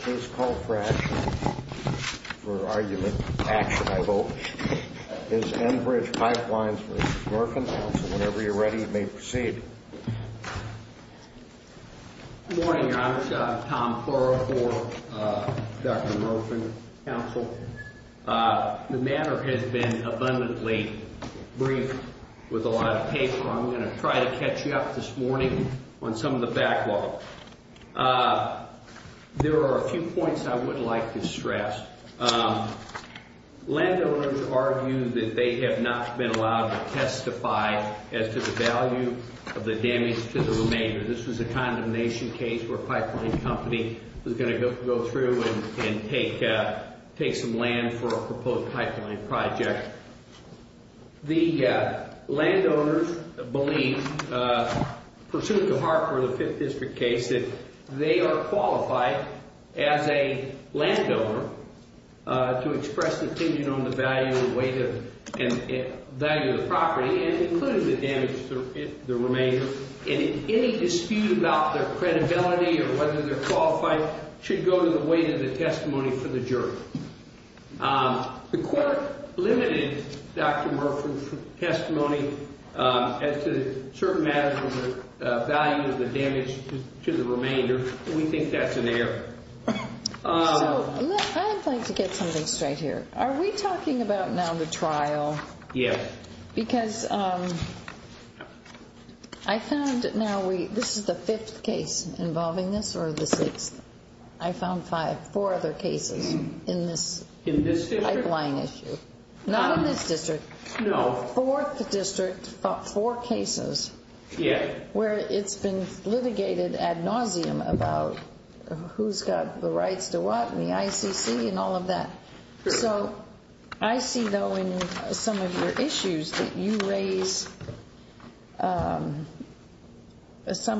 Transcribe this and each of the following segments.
Please call for action. For argument, action, I vote. That is Enbridge Pipelines v. Murfin. Council, whenever you're ready, you may proceed. Good morning, Your Honor. Tom Furr for Dr. Murfin, Council. The matter has been abundantly brief with a lot of paper. I'm going to try to catch you up this morning on some of the backlog. There are a few points I would like to stress. Landowners argue that they have not been allowed to testify as to the value of the damage to the remainder. This was a condemnation case where a pipeline company was going to go through and take some land for a proposed pipeline project. The landowners believe, pursuant to Hartford, the Fifth District case, that they are qualified as a landowner to express their opinion on the value of the property, including the damage to the remainder. Any dispute about their credibility or whether they're qualified should go to the weight of the testimony for the jury. The court limited Dr. Murfin's testimony as to certain matters of the value of the damage to the remainder. We think that's an error. I'd like to get something straight here. Are we talking about now the trial? Yes. Because I found now we, this is the fifth case involving this or the sixth? I found five, four other cases in this pipeline issue. In this district? Not in this district. No. Fourth district, four cases. Yeah. Where it's been litigated ad nauseum about who's got the rights to what and the ICC and all of that. So I see, though, in some of your issues that you raise some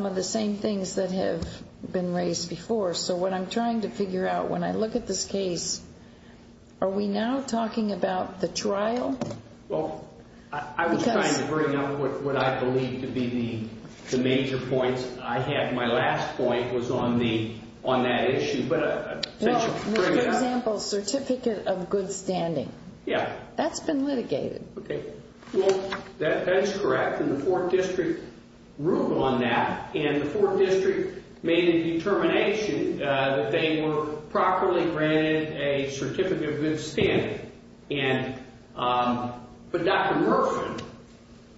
of the same things that have been raised before. So what I'm trying to figure out when I look at this case, are we now talking about the trial? Well, I was trying to bring up what I believe to be the major points I had. My last point was on that issue. For example, certificate of good standing. Yeah. That's been litigated. Okay. Well, that's correct. And the fourth district ruled on that. And the fourth district made a determination that they were properly granted a certificate of good standing. But Dr. Murfin,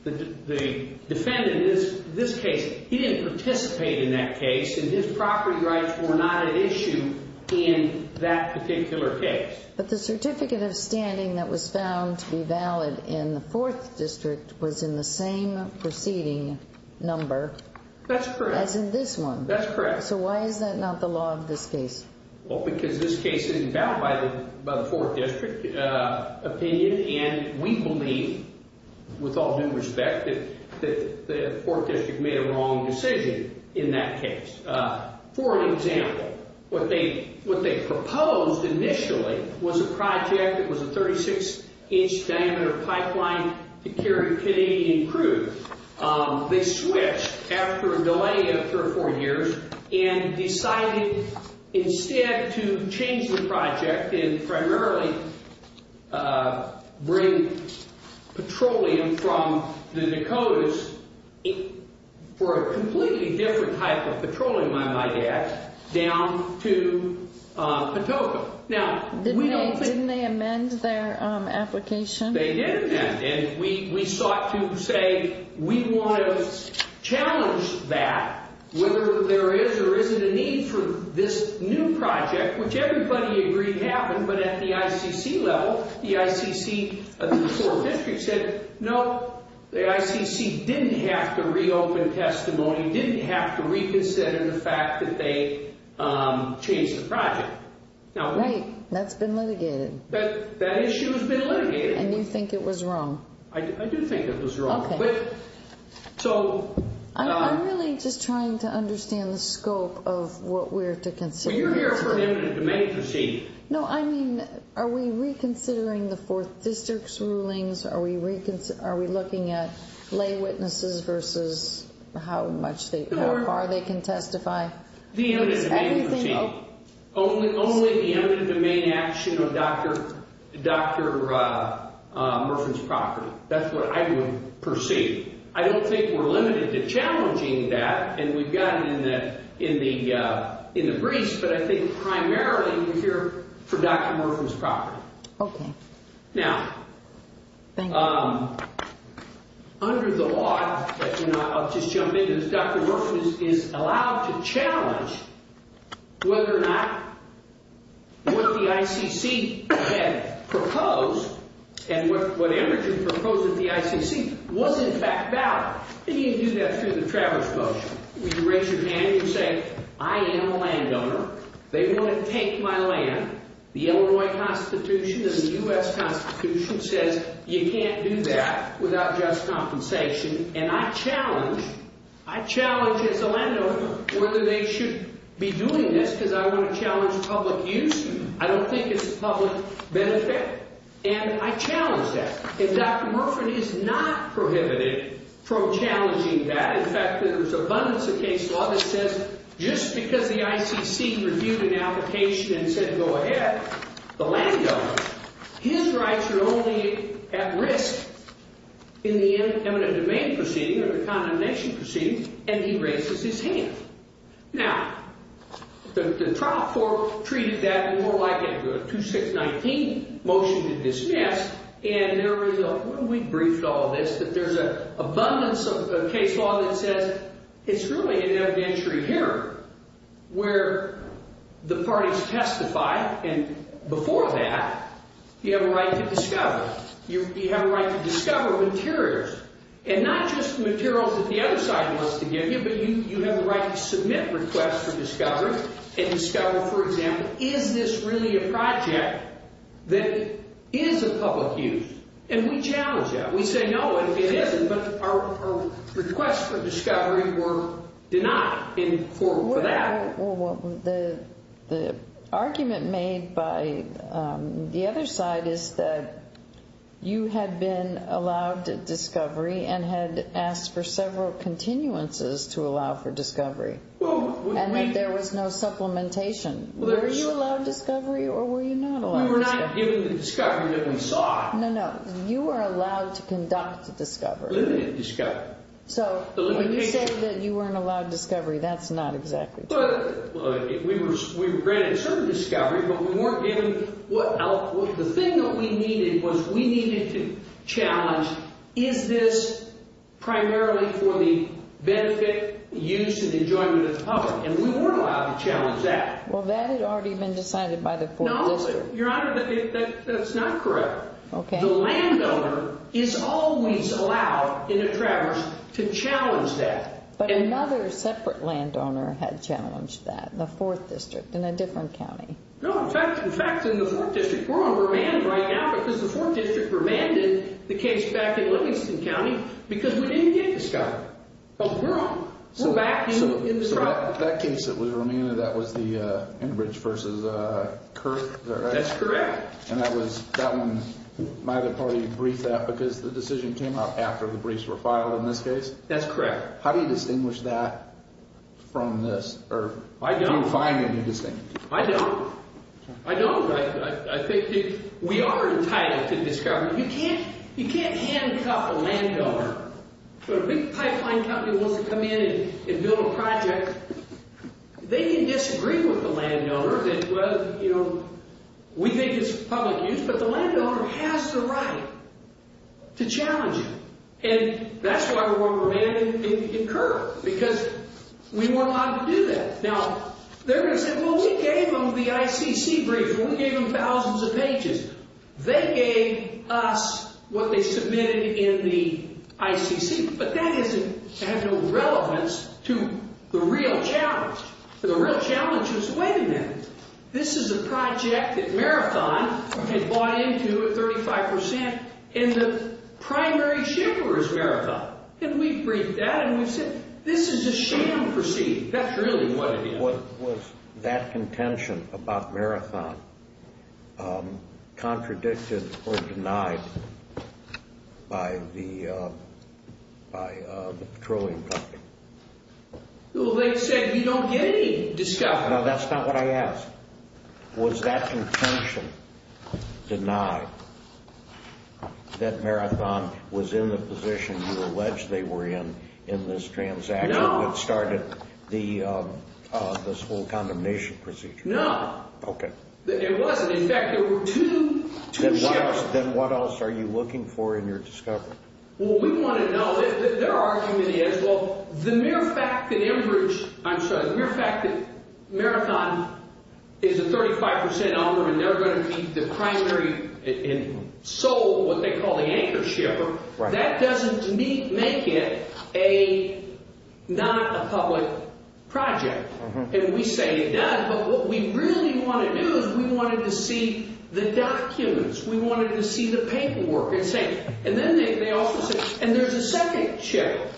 the defendant in this case, he didn't participate in that case, and his property rights were not an issue in that particular case. But the certificate of standing that was found to be valid in the fourth district was in the same preceding number. That's correct. As in this one. That's correct. So why is that not the law of this case? Well, because this case isn't bound by the fourth district opinion, and we believe, with all due respect, that the fourth district made a wrong decision in that case. For example, what they proposed initially was a project that was a 36-inch diameter pipeline to carry Canadian crews. They switched after a delay of three or four years and decided instead to change the project and primarily bring petroleum from the Dakotas for a completely different type of petroleum, I might add, down to Patoka. Didn't they amend their application? They did amend. And we sought to say, we want to challenge that, whether there is or isn't a need for this new project, which everybody agreed happened. But at the ICC level, the ICC of the fourth district said, no, the ICC didn't have to reopen testimony, didn't have to reconsider the fact that they changed the project. Right. That's been litigated. That issue has been litigated. And you think it was wrong? I do think it was wrong. Okay. I'm really just trying to understand the scope of what we're to consider. Well, you're here for an eminent domain proceed. No, I mean, are we reconsidering the fourth district's rulings? Are we looking at lay witnesses versus how far they can testify? Only the eminent domain action of Dr. Murfin's property. That's what I would perceive. I don't think we're limited to challenging that. And we've got it in the briefs. But I think primarily you're here for Dr. Murfin's property. Okay. Now, under the law, I'll just jump in, Dr. Murfin is allowed to challenge whether or not what the ICC had proposed and what Emerson proposed at the ICC was in fact valid. And you do that through the Traverse Motion. You raise your hand and you say, I am a landowner. They want to take my land. The Illinois Constitution and the U.S. Constitution says you can't do that without just compensation. And I challenge, I challenge as a landowner whether they should be doing this because I want to challenge public use. I don't think it's a public benefit. And I challenge that. And Dr. Murfin is not prohibited from challenging that. In fact, there's abundance of case law that says just because the ICC reviewed an application and said go ahead, the landowner, his rights are only at risk in the eminent domain proceeding or the condemnation proceeding, and he raises his hand. Now, the trial court treated that more like a 2619 motion to dismiss. And there is a, we briefed all of this, that there's an abundance of case law that says it's really an evidentiary hearing where the parties testify and before that you have a right to discover. You have a right to discover materials. And not just materials that the other side wants to give you, but you have the right to submit requests for discovery and discover, for example, is this really a project that is of public use? And we challenge that. We say no, it isn't, but our requests for discovery were denied for that. Well, the argument made by the other side is that you had been allowed discovery and had asked for several continuances to allow for discovery. And that there was no supplementation. Were you allowed discovery or were you not allowed discovery? We were not given the discovery that we sought. No, no. You were allowed to conduct the discovery. Limited discovery. So when you said that you weren't allowed discovery, that's not exactly correct. We were granted certain discovery, but we weren't given, the thing that we needed was we needed to challenge is this primarily for the benefit, use, and enjoyment of the public? And we weren't allowed to challenge that. Well, that had already been decided by the court. No, Your Honor, that's not correct. Okay. The landowner is always allowed in a traverse to challenge that. But another separate landowner had challenged that, the 4th District in a different county. No, in fact, in the 4th District, we're on remand right now because the 4th District remanded the case back in Livingston County because we didn't get discovery. But we're on, we're back in the trial. So that case that was remanded, that was the Enbridge versus Kirk, is that right? That's correct. And that was, that one, my other party briefed that because the decision came up after the briefs were filed in this case? That's correct. How do you distinguish that from this, or do you find any distinction? I don't. I don't. I think we are entitled to discovery. You can't handcuff a landowner. When a big pipeline company wants to come in and build a project, they can disagree with the landowner that, well, you know, we think it's public use, but the landowner has the right to challenge it. And that's why we're on remand in Kirk because we weren't allowed to do that. Now, they're going to say, well, we gave them the ICC brief. We gave them thousands of pages. They gave us what they submitted in the ICC. But that has no relevance to the real challenge. The real challenge was, wait a minute, this is a project that Marathon had bought into at 35% in the primary shippers' marathon. And we briefed that, and we said, this is a sham proceed. That's really what it is. Was that contention about Marathon contradicted or denied by the petroleum company? Well, they said we don't get any discovery. No, that's not what I asked. Was that contention denied that Marathon was in the position you allege they were in in this transaction? No. Marathon started this whole condemnation procedure. No. Okay. It wasn't. In fact, there were two shippers. Then what else are you looking for in your discovery? Well, we want to know. Their argument is, well, the mere fact that Marathon is a 35% offer and they're going to be the primary in Seoul, what they call the anchor shipper, that doesn't make it not a public project. And we say it does, but what we really want to do is we wanted to see the documents. We wanted to see the paperwork. And then they also said, and there's a second shipper,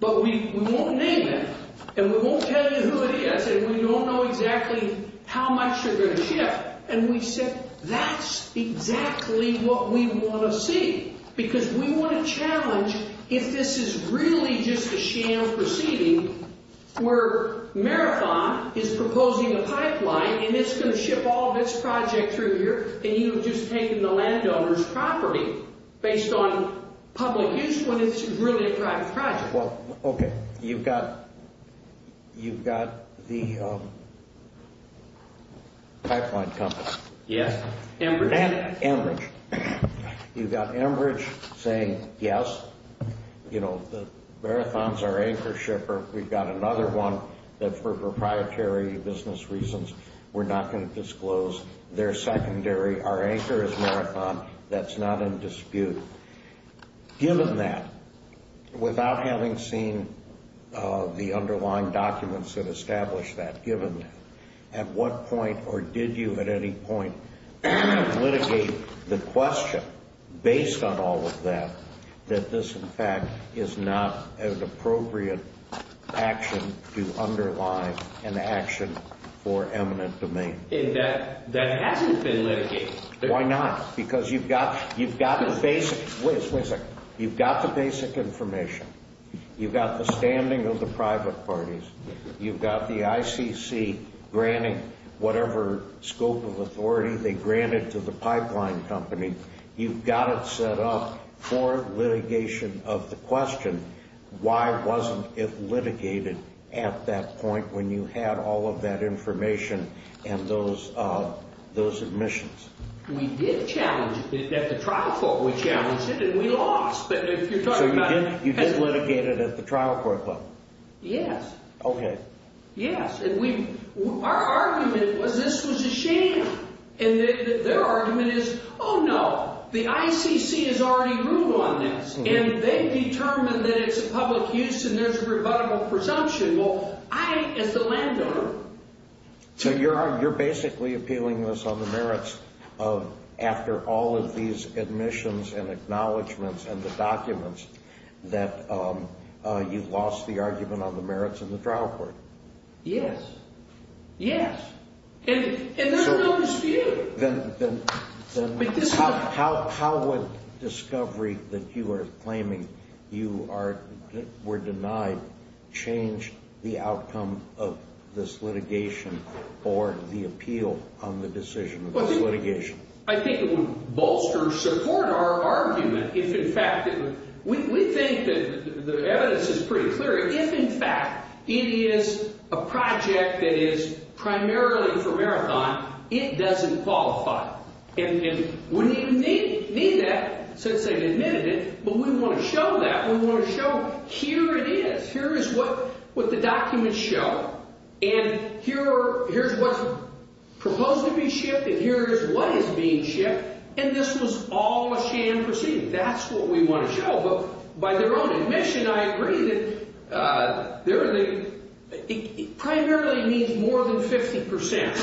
but we won't name him, and we won't tell you who it is, and we don't know exactly how much you're going to ship. And we said that's exactly what we want to see because we want to challenge if this is really just a sham proceeding where Marathon is proposing a pipeline and it's going to ship all of its project through here and you've just taken the landowner's property based on public use when it's really a private project. Well, okay, you've got the pipeline company. Yes, Enbridge. Enbridge. You've got Enbridge saying, yes, Marathon's our anchor shipper. We've got another one that for proprietary business reasons we're not going to disclose. They're secondary. Our anchor is Marathon. That's not in dispute. Given that, without having seen the underlying documents that establish that, given that, at what point or did you at any point litigate the question, based on all of that, that this, in fact, is not an appropriate action to underline an action for eminent domain? That hasn't been litigated. Why not? Because you've got the basic information. You've got the standing of the private parties. You've got the ICC granting whatever scope of authority they granted to the pipeline company. You've got it set up for litigation of the question, why wasn't it litigated at that point when you had all of that information and those admissions? We did challenge it at the trial court. We challenged it and we lost. So you did litigate it at the trial court level? Yes. Okay. Yes. Our argument was this was a sham. And their argument is, oh, no, the ICC has already ruled on this. And they determined that it's a public use and there's a rebuttable presumption. Well, I, as the landowner. So you're basically appealing this on the merits of after all of these admissions and acknowledgements and the documents that you lost the argument on the merits in the trial court? Yes. Yes. And there's no dispute. How would discovery that you are claiming you were denied change the outcome of this litigation or the appeal on the decision of this litigation? I think it would bolster support our argument if, in fact, we think that the evidence is pretty clear. If, in fact, it is a project that is primarily for marathon, it doesn't qualify. And we don't even need that since they've admitted it. But we want to show that. We want to show here it is. Here is what the documents show. And here's what's proposed to be shipped and here is what is being shipped. And this was all a sham proceeding. That's what we want to show. By their own admission, I agree that it primarily means more than 50 percent,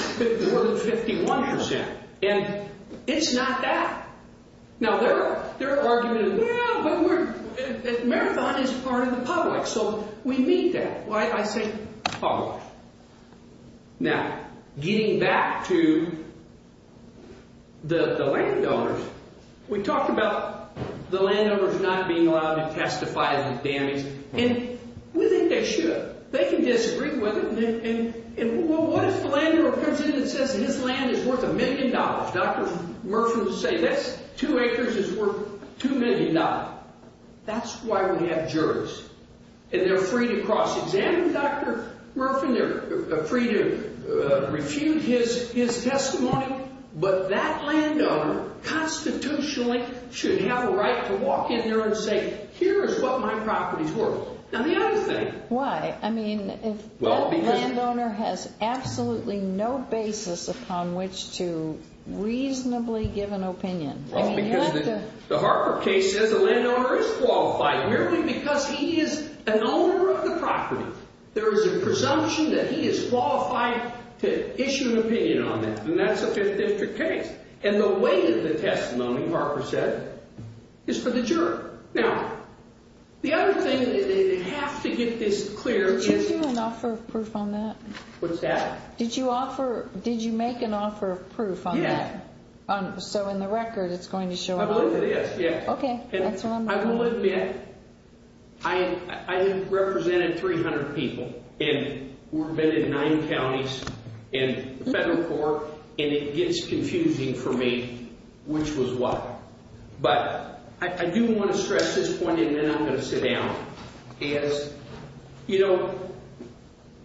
more than 51 percent. And it's not that. Now, their argument is marathon is part of the public. So we meet that. I say public. Now, getting back to the landowners, we talked about the landowners not being allowed to testify in this damage. And we think they should. They can disagree with it. And what if the landowner comes in and says his land is worth a million dollars? Dr. Murphy will say this, two acres is worth $2 million. That's why we have jurors. And they're free to cross-examine. And Dr. Murphy, they're free to refute his testimony. But that landowner constitutionally should have a right to walk in there and say, here is what my properties worth. Now, the other thing. Why? I mean, if that landowner has absolutely no basis upon which to reasonably give an opinion. The Harper case says the landowner is qualified merely because he is an owner of the property. There is a presumption that he is qualified to issue an opinion on that. And that's a Fifth District case. And the weight of the testimony, Harper said, is for the juror. Now, the other thing, and I have to get this clear. Did you do an offer of proof on that? What's that? Yeah. So in the record, it's going to show up? I believe it is, yeah. Okay. I will admit, I have represented 300 people. And we've been in nine counties in the federal court. And it gets confusing for me, which was why. But I do want to stress this point, and then I'm going to sit down. You know,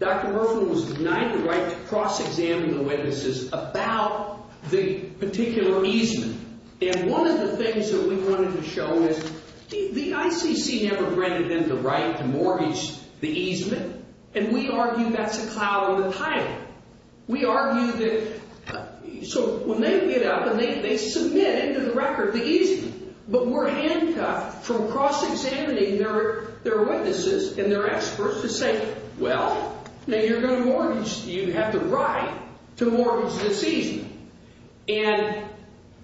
Dr. Murphy was denied the right to cross-examine the witnesses about the particular easement. And one of the things that we wanted to show is the ICC never granted them the right to mortgage the easement. And we argue that's a cloud on the title. We argue that so when they get up and they submit into the record the easement, but we're handcuffed from cross-examining their witnesses and their experts to say, well, now you're going to mortgage. You have the right to mortgage the easement. And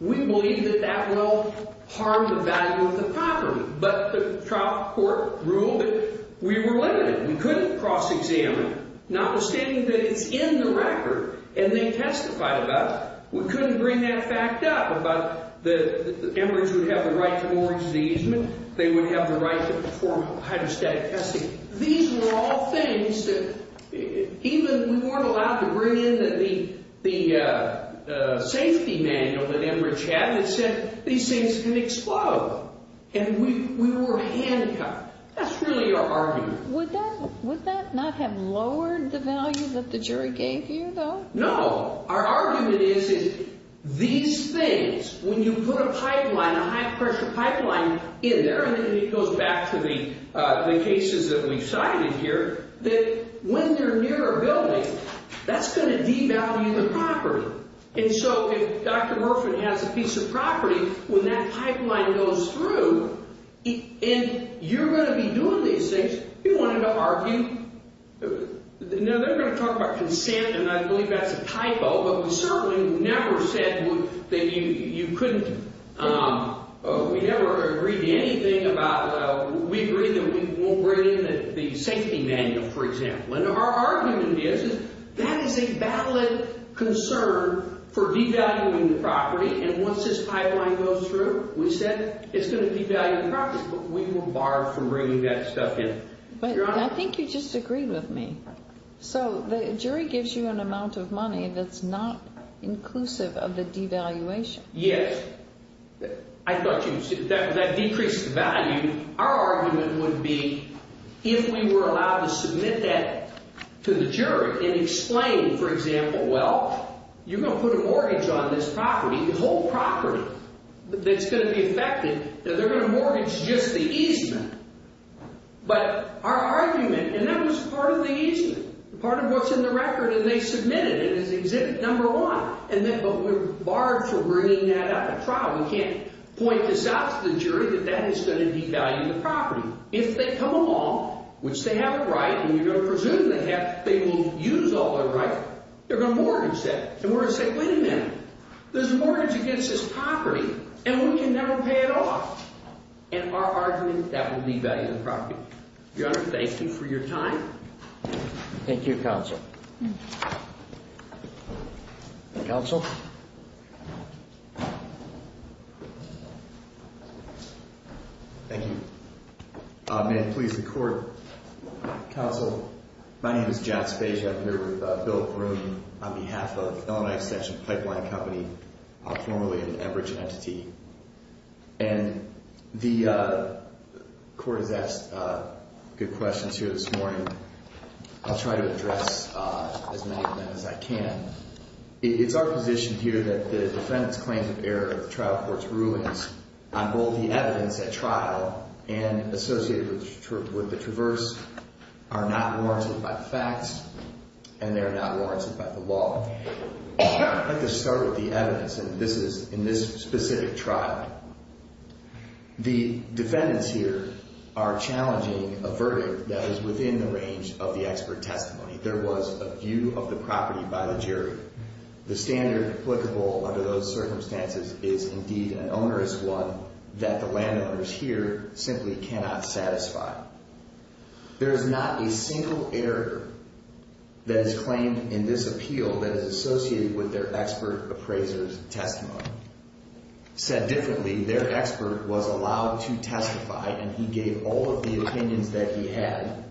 we believe that that will harm the value of the property. But the trial court ruled that we were limited. We couldn't cross-examine. Notwithstanding that it's in the record and they testified about it, we couldn't bring that fact up about that Enbridge would have the right to mortgage the easement, they would have the right to perform hydrostatic testing. These were all things that even we weren't allowed to bring in the safety manual that Enbridge had that said these things can explode. And we were handcuffed. That's really our argument. Would that not have lowered the value that the jury gave you, though? No. Our argument is these things, when you put a pipeline, a high-pressure pipeline in there, and it goes back to the cases that we cited here, that when they're near a building, that's going to devalue the property. And so if Dr. Murfin has a piece of property, when that pipeline goes through and you're going to be doing these things, we wanted to argue. Now, they're going to talk about consent, and I believe that's a typo, but we certainly never said that you couldn't – we never agreed to anything about – we agreed that we won't bring in the safety manual, for example. And our argument is that is a valid concern for devaluing the property, and once this pipeline goes through, we said it's going to devalue the property. But we were barred from bringing that stuff in. But I think you just agreed with me. So the jury gives you an amount of money that's not inclusive of the devaluation. Yes. I thought you – that decreases the value. Our argument would be if we were allowed to submit that to the jury and explain, for example, well, you're going to put a mortgage on this property, the whole property, that's going to be affected, that they're going to mortgage just the easement. But our argument – and that was part of the easement, part of what's in the record, and they submitted it as exhibit number one, but we were barred from bringing that up at trial. We can't point this out to the jury that that is going to devalue the property. If they come along, which they have a right, and you're going to presume they have – they will use all their right, they're going to mortgage that. And we're going to say, wait a minute, there's a mortgage against this property, and we can never pay it off. In our argument, that will devalue the property. Your Honor, thank you for your time. Thank you, Counsel. Counsel? Thank you. May I please record, Counsel, my name is John Spezia. I'm here with Bill Groome on behalf of Illinois Extension Pipeline Company, formerly an Enbridge entity. And the court has asked good questions here this morning. I'll try to address as many of them as I can. It's our position here that the defendant's claims of error of the trial court's rulings on both the evidence at trial and associated with the traverse are not warranted by the facts, and they're not warranted by the law. I'd like to start with the evidence, and this is in this specific trial. The defendants here are challenging a verdict that is within the range of the expert testimony. There was a view of the property by the jury. The standard applicable under those circumstances is indeed an onerous one that the landowners here simply cannot satisfy. There is not a single error that is claimed in this appeal that is associated with their expert appraiser's testimony. Said differently, their expert was allowed to testify, and he gave all of the opinions that he had,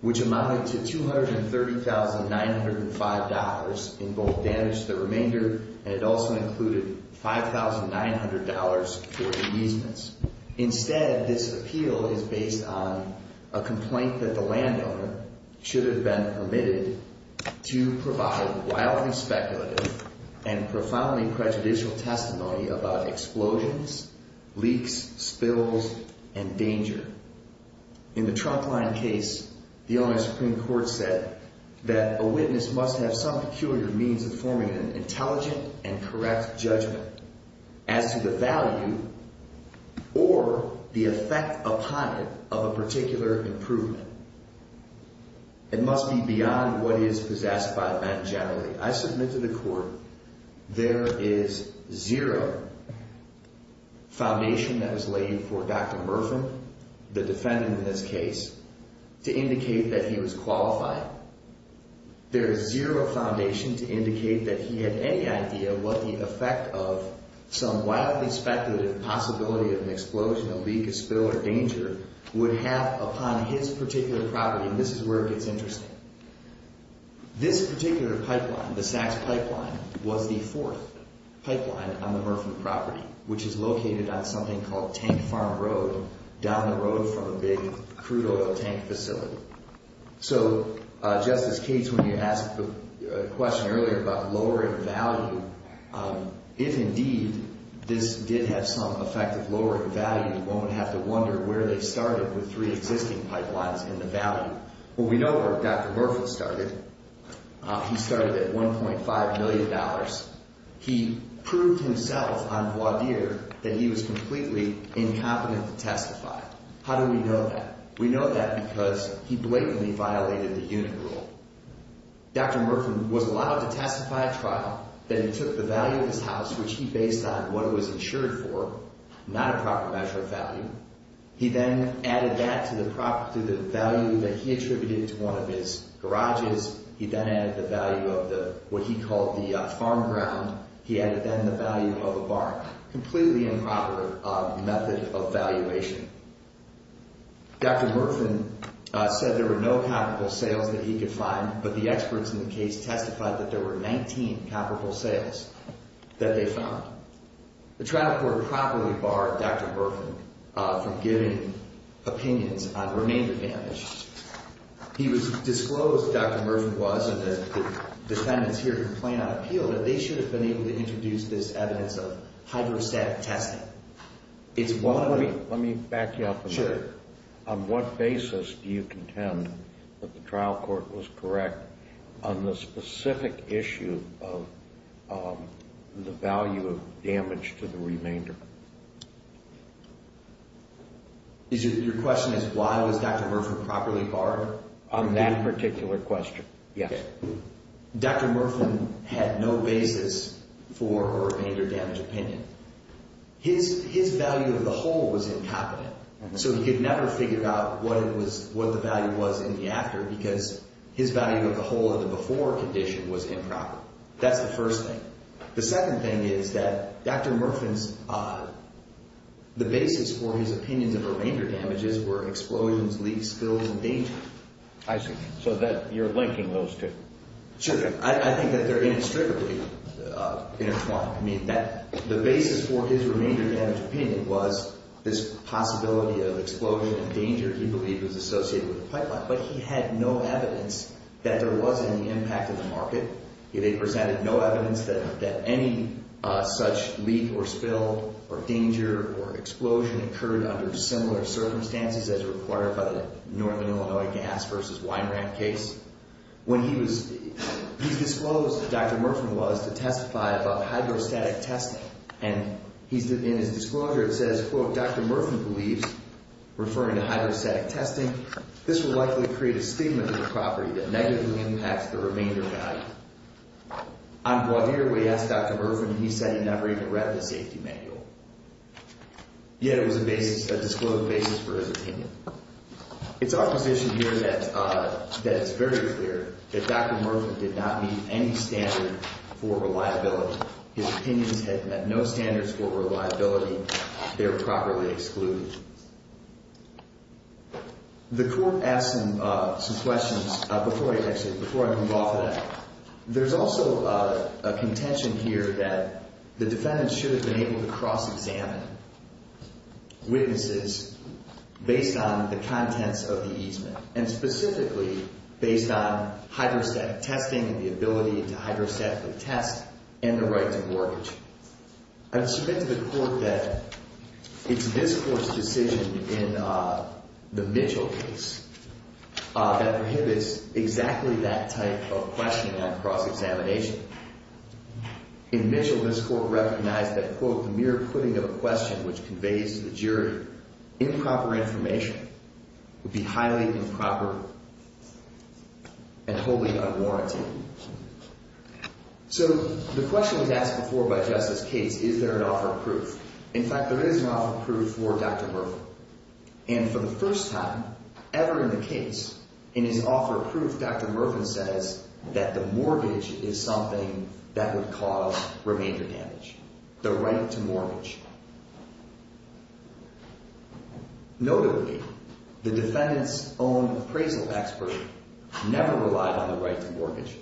which amounted to $230,905 in both damage to the remainder, and it also included $5,900 for ameasements. Instead, this appeal is based on a complaint that the landowner should have been permitted to provide wildly speculative and profoundly prejudicial testimony about explosions, leaks, spills, and danger. In the trunkline case, the owner of the Supreme Court said that a witness must have some peculiar means of forming an intelligent and correct judgment. As to the value or the effect upon it of a particular improvement, it must be beyond what is possessed by the man generally. I submit to the court there is zero foundation that was laid for Dr. Murphin, the defendant in this case, to indicate that he was qualified. There is zero foundation to indicate that he had any idea what the effect of some wildly speculative possibility of an explosion, a leak, a spill, or danger would have upon his particular property, and this is where it gets interesting. This particular pipeline, the Sachs pipeline, was the fourth pipeline on the Murphin property, which is located on something called Tank Farm Road down the road from a big crude oil tank facility. So, Justice Cates, when you asked the question earlier about lowering value, if indeed this did have some effect of lowering value, you won't have to wonder where they started with three existing pipelines in the value. Well, we know where Dr. Murphin started. He started at $1.5 million. He proved himself on voir dire that he was completely incompetent to testify. How do we know that? We know that because he blatantly violated the unit rule. Dr. Murphin was allowed to testify at trial, then he took the value of his house, which he based on what it was insured for, not a proper measure of value. He then added that to the value that he attributed to one of his garages. He then added the value of what he called the farm ground. He added then the value of a barn. Completely improper method of valuation. Dr. Murphin said there were no comparable sales that he could find, but the experts in the case testified that there were 19 comparable sales that they found. The trial court promptly barred Dr. Murphin from giving opinions on remainder damage. He was disclosed, Dr. Murphin was, and the defendants here complain on appeal that they should have been able to introduce this evidence of hydrostatic testing. Let me back you up a minute. Sure. On what basis do you contend that the trial court was correct on the specific issue of the value of damage to the remainder? Your question is why was Dr. Murphin properly barred? On that particular question, yes. Dr. Murphin had no basis for a remainder damage opinion. His value of the whole was incompetent, so he could never figure out what the value was in the after because his value of the whole of the before condition was improper. That's the first thing. The second thing is that Dr. Murphin's, the basis for his opinions of remainder damages were explosions, leaks, spills, and danger. I see. So you're linking those two. Sure. I think that they're inextricably intertwined. The basis for his remainder damage opinion was this possibility of explosion and danger he believed was associated with the pipeline, but he had no evidence that there was any impact on the market. They presented no evidence that any such leak or spill or danger or explosion occurred under similar circumstances as required by the Northern Illinois Gas v. Winerand case. He's disclosed, Dr. Murphin was, to testify about hydrostatic testing, and in his disclosure it says, quote, Dr. Murphin believes, referring to hydrostatic testing, this will likely create a stigma to the property that negatively impacts the remainder value. On Guadir, we asked Dr. Murphin, and he said he never even read the safety manual. Yet it was a disclosed basis for his opinion. It's our position here that it's very clear that Dr. Murphin did not meet any standard for reliability. His opinions had met no standards for reliability. They were properly excluded. The court asked him some questions before I move off of that. There's also a contention here that the defendant should have been able to cross-examine witnesses based on the contents of the easement and specifically based on hydrostatic testing and the ability to hydrostatically test and the right to mortgage. I would submit to the court that it's this court's decision in the Mitchell case that prohibits exactly that type of questioning on cross-examination. The mere putting of a question which conveys to the jury improper information would be highly improper and wholly unwarranted. So the question was asked before by Justice Cates, is there an offer of proof? In fact, there is an offer of proof for Dr. Murphin. And for the first time ever in the case, in his offer of proof, Dr. Murphin says that the mortgage is something that would cause remainder damage. The right to mortgage. Notably, the defendant's own appraisal expert never relied on the right to mortgage,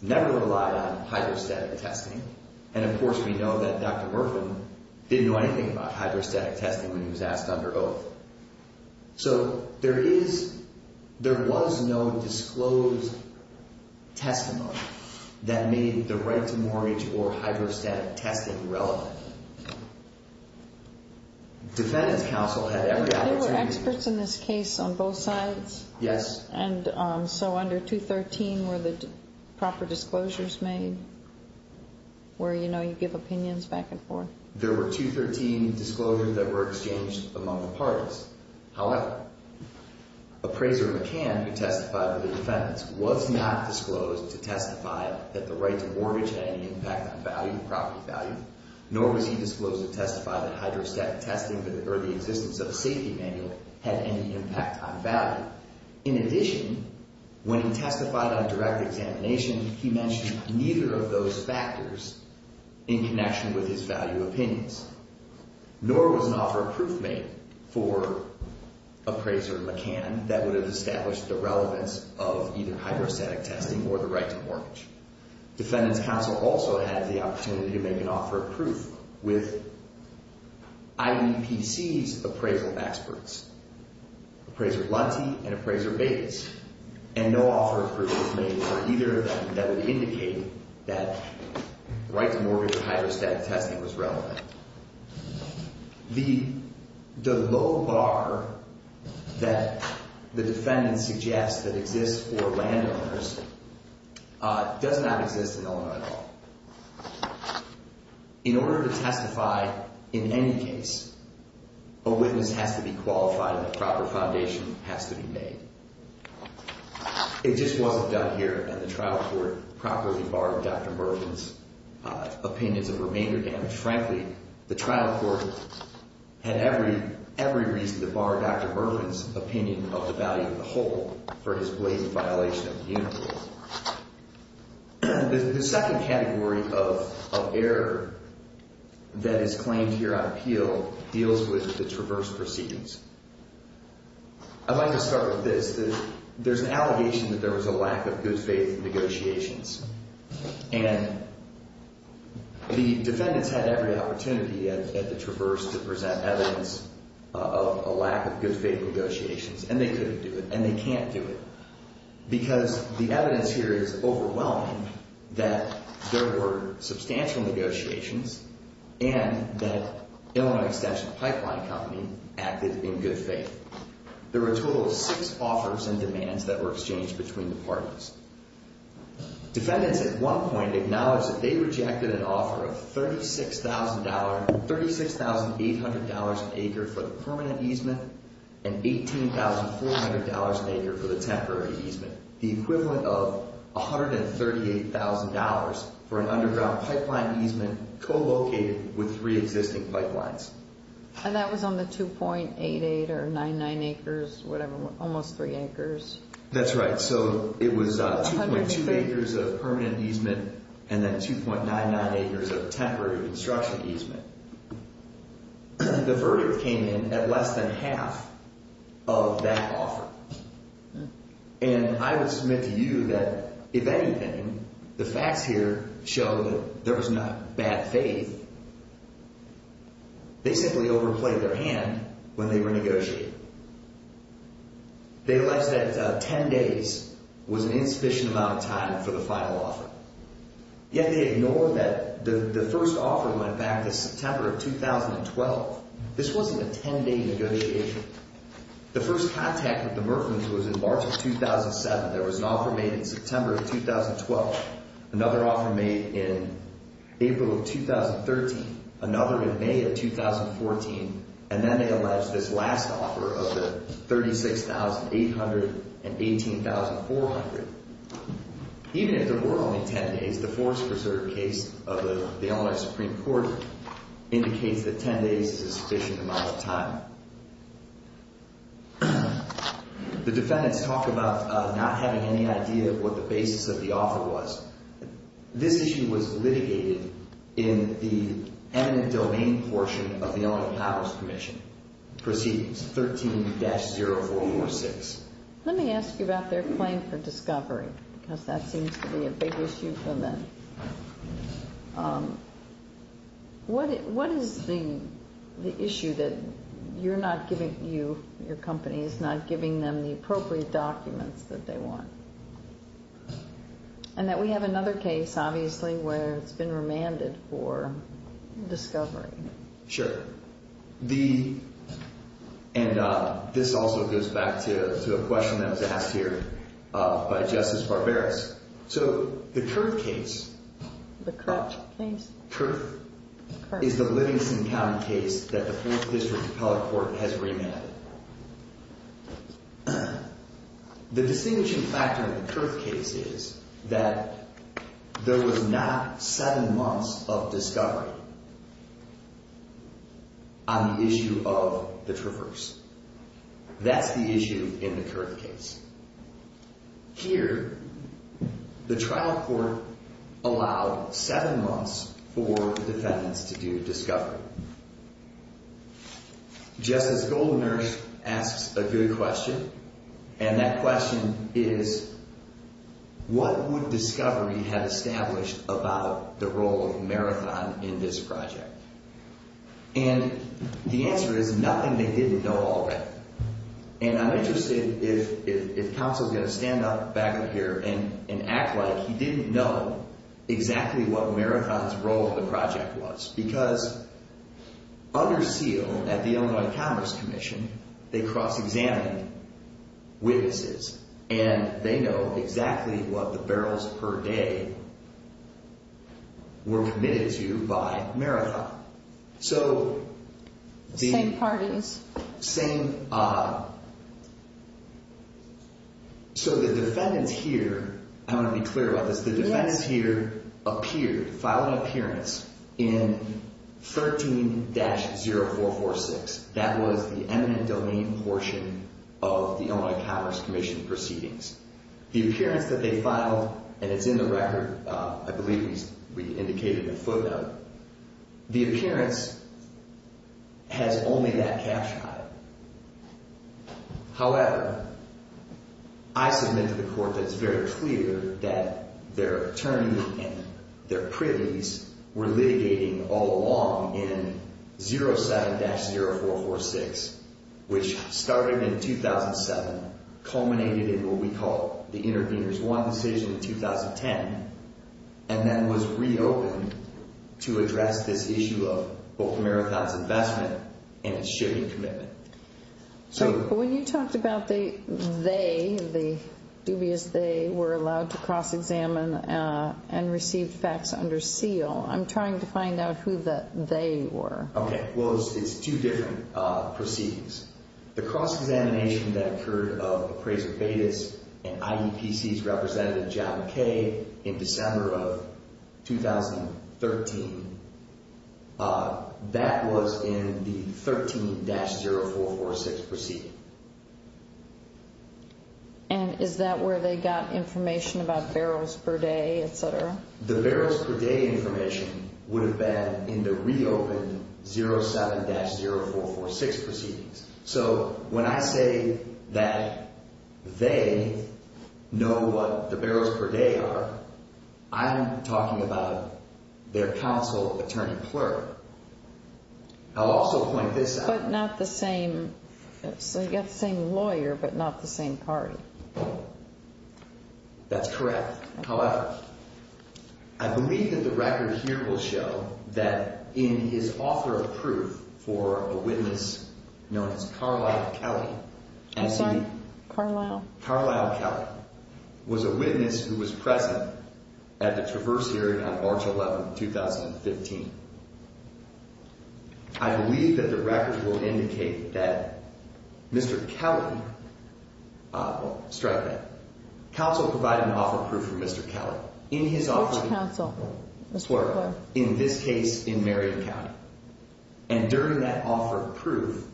never relied on hydrostatic testing, and of course we know that Dr. Murphin didn't know anything about hydrostatic testing when he was asked under oath. So there is, there was no disclosed testimony that made the right to mortgage or hydrostatic testing relevant. Defendant's counsel had every opportunity... There were experts in this case on both sides? Yes. And so under 213 were the proper disclosures made where you know you give opinions back and forth? There were 213 disclosures that were exchanged among the parties. However, Appraiser McCann, who testified with the defendants, was not disclosed to testify that the right to mortgage had any impact on value, property value, nor was he disclosed to testify that hydrostatic testing or the existence of a safety manual had any impact on value. In addition, when he testified on direct examination, he mentioned neither of those factors in connection with his value opinions, nor was an offer of proof made for Appraiser McCann that would have established the relevance of either hydrostatic testing or the right to mortgage. Defendant's counsel also had the opportunity to make an offer of proof with IEPC's appraisal experts, Appraiser Lunte and Appraiser Bates, and no offer of proof was made for either of them that would indicate that right to mortgage or hydrostatic testing was relevant. The low bar that the defendant suggests that exists for landowners does not exist in Illinois at all. In order to testify in any case, a witness has to be qualified and the proper foundation has to be made. It just wasn't done here, and the trial court properly barred Dr. Mervyn's opinions of remainder damage. Frankly, the trial court had every reason to bar Dr. Mervyn's opinion of the value of the whole for his blatant violation of the Union Rule. The second category of error that is claimed here on appeal deals with the Traverse Proceedings. I'd like to start with this. There's an allegation that there was a lack of good faith negotiations, and the defendants had every opportunity at the Traverse to present evidence of a lack of good faith negotiations, and they couldn't do it, and they can't do it, because the evidence here is overwhelming that there were substantial negotiations and that Illinois Extension Pipeline Company acted in good faith. There were a total of six offers and demands that were exchanged between the parties. Defendants at one point acknowledged that they rejected an offer of $36,800 an acre for the permanent easement and $18,400 an acre for the temporary easement, the equivalent of $138,000 for an underground pipeline easement co-located with three existing pipelines. And that was on the 2.88 or 99 acres, whatever, almost three acres. That's right. So it was 2.2 acres of permanent easement and then 2.99 acres of temporary construction easement. The verdict came in at less than half of that offer, and I would submit to you that, if anything, the facts here show that there was not bad faith. They simply overplayed their hand when they were negotiating. They alleged that 10 days was an insufficient amount of time for the final offer, yet they ignored that the first offer went back to September of 2012. This wasn't a 10-day negotiation. The first contact with the Murphans was in March of 2007. There was an offer made in September of 2012, another offer made in April of 2013, another in May of 2014, and then they alleged this last offer of the $36,800 and $18,400. Even if there were only 10 days, the Forest Preserve case of the Illinois Supreme Court indicates that 10 days is an insufficient amount of time. The defendants talk about not having any idea of what the basis of the offer was. This issue was litigated in the eminent domain portion of the Illinois Powers Commission, Proceedings 13-0446. Let me ask you about their claim for discovery, because that seems to be a big issue for them. What is the issue that you're not giving your companies, not giving them the appropriate documents that they want? And that we have another case, obviously, where it's been remanded for discovery. Sure. And this also goes back to a question that was asked here by Justice Barberis. So the Kurth case is the Livingston County case that the 4th District Appellate Court has remanded. The distinguishing factor in the Kurth case is that there was not seven months of discovery. On the issue of the traverse. That's the issue in the Kurth case. Here, the trial court allowed seven months for the defendants to do discovery. Justice Goldner asks a good question, and that question is, what would discovery have established about the role of Marathon in this project? And the answer is nothing they didn't know already. And I'm interested if counsel is going to stand up back up here and act like he didn't know exactly what Marathon's role in the project was, because under seal at the Illinois Commerce Commission, they cross-examined witnesses, and they know exactly what the barrels per day were committed to by Marathon. So... Same parties. Same... So the defendants here, I want to be clear about this, the defendants here appeared, filed an appearance in 13-0446. That was the eminent domain portion of the Illinois Commerce Commission proceedings. The appearance that they filed, and it's in the record, I believe we indicated in the photo. The appearance has only that cap shot. However, I submit to the court that it's very clear that their attorney and their privies were litigating all along in 07-0446, which started in 2007, culminated in what we call the Intervenors 1 decision in 2010, and then was reopened to address this issue of both Marathon's investment and its sharing commitment. So when you talked about they, the dubious they, were allowed to cross-examine and received facts under seal, I'm trying to find out who the they were. Okay. Well, it's two different proceedings. The cross-examination that occurred of appraiser Bates and IDPC's representative John Kay in December of 2013, that was in the 13-0446 proceeding. And is that where they got information about barrels per day, et cetera? The barrels per day information would have been in the reopened 07-0446 proceedings. So when I say that they know what the barrels per day are, I'm talking about their counsel, attorney clerk. I'll also point this out. But not the same, so you got the same lawyer, but not the same party. That's correct. However, I believe that the record here will show that in his offer of proof for a witness known as Carlisle Kelly. I'm sorry? Carlisle. Carlisle Kelly was a witness who was present at the traverse hearing on March 11, 2015. I believe that the record will indicate that Mr. Kelly, strike that, counsel provided an offer of proof for Mr. Kelly. Which counsel? In this case, in Marion County. And during that offer of proof,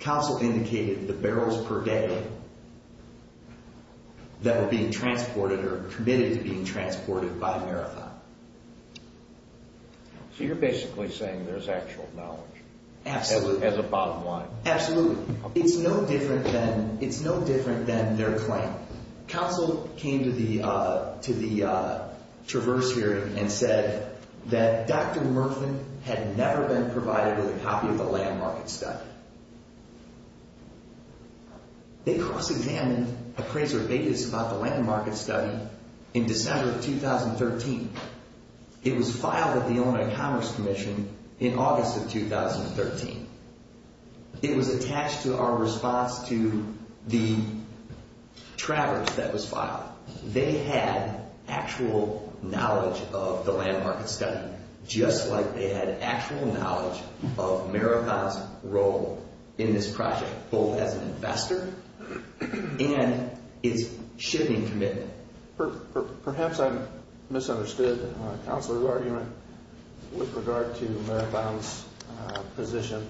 counsel indicated the barrels per day that were being transported or committed to being transported by a marathon. So you're basically saying there's actual knowledge. Absolutely. As a bottom line. Absolutely. It's no different than their claim. Counsel came to the traverse hearing and said that Dr. Murfin had never been provided with a copy of the land market study. They cross-examined appraiser Davis about the land market study in December of 2013. It was filed with the Illinois Commerce Commission in August of 2013. It was attached to our response to the traverse that was filed. They had actual knowledge of the land market study, just like they had actual knowledge of Marathon's role in this project, both as an investor and its shipping commitment. Perhaps I misunderstood counsel's argument with regard to Marathon's position.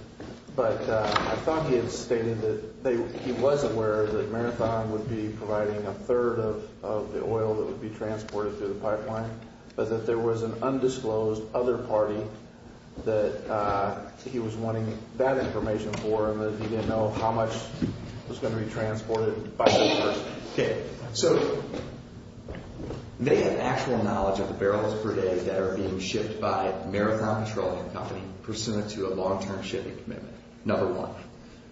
But I thought he had stated that he was aware that Marathon would be providing a third of the oil that would be transported through the pipeline, but that there was an undisclosed other party that he was wanting that information for and that he didn't know how much was going to be transported by that person. Okay. So they had actual knowledge of the barrels per day that are being shipped by Marathon Petroleum Company pursuant to a long-term shipping commitment, number one.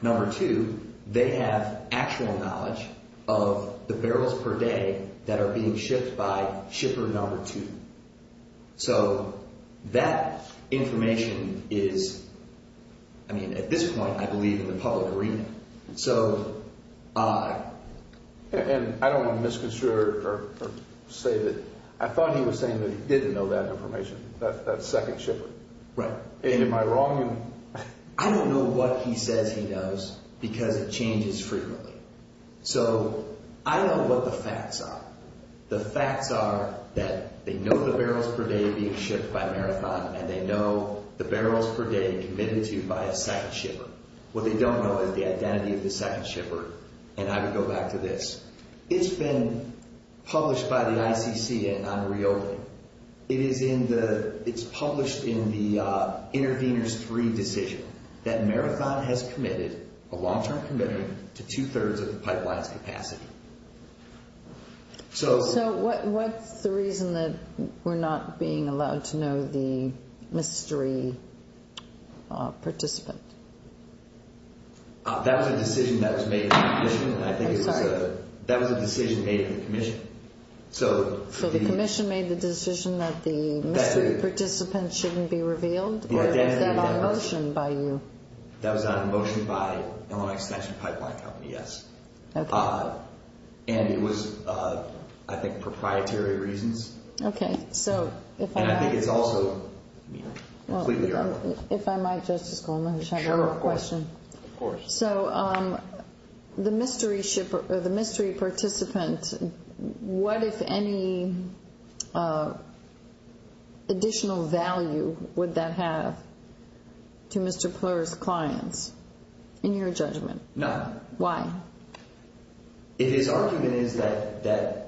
Number two, they have actual knowledge of the barrels per day that are being shipped by shipper number two. So that information is, I mean, at this point, I believe, in the public arena. I don't want to misconstrue or say that I thought he was saying that he didn't know that information. That second shipper. Right. And am I wrong? I don't know what he says he knows because it changes frequently. So I know what the facts are. The facts are that they know the barrels per day being shipped by Marathon and they know the barrels per day committed to by a second shipper. What they don't know is the identity of the second shipper. And I would go back to this. It's been published by the ICC on Rioli. It's published in the Intervenors 3 decision that Marathon has committed a long-term commitment to two-thirds of the pipeline's capacity. So what's the reason that we're not being allowed to know the mystery participant? That was a decision that was made by the commission. I'm sorry. That was a decision made by the commission. So the commission made the decision that the mystery participant shouldn't be revealed? Or was that on motion by you? That was on motion by Illinois Extension Pipeline Company, yes. And it was, I think, proprietary reasons. And I think it's also completely irrelevant. If I might, Justice Goldman, just have one more question. Of course. So the mystery participant, what, if any, additional value would that have to Mr. Pler's clients, in your judgment? None. Why? His argument is that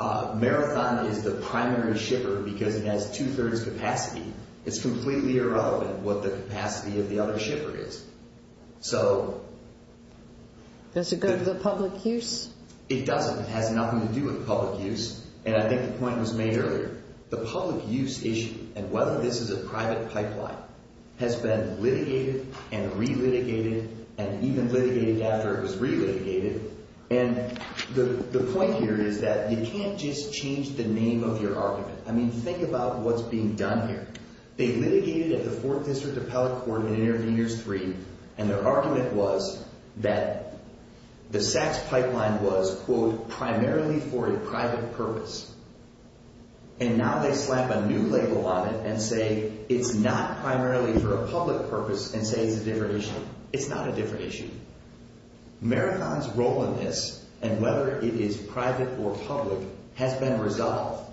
Marathon is the primary shipper because it has two-thirds capacity. It's completely irrelevant what the capacity of the other shipper is. So… Does it go to the public use? It doesn't. It has nothing to do with public use. And I think the point was made earlier. The public use issue, and whether this is a private pipeline, has been litigated and re-litigated and even litigated after it was re-litigated. And the point here is that you can't just change the name of your argument. I mean, think about what's being done here. They litigated at the Fourth District Appellate Court in Interveners 3, and their argument was that the Sachs pipeline was, quote, primarily for a private purpose. And now they slap a new label on it and say it's not primarily for a public purpose and say it's a different issue. It's not a different issue. Marathon's role in this, and whether it is private or public, has been resolved.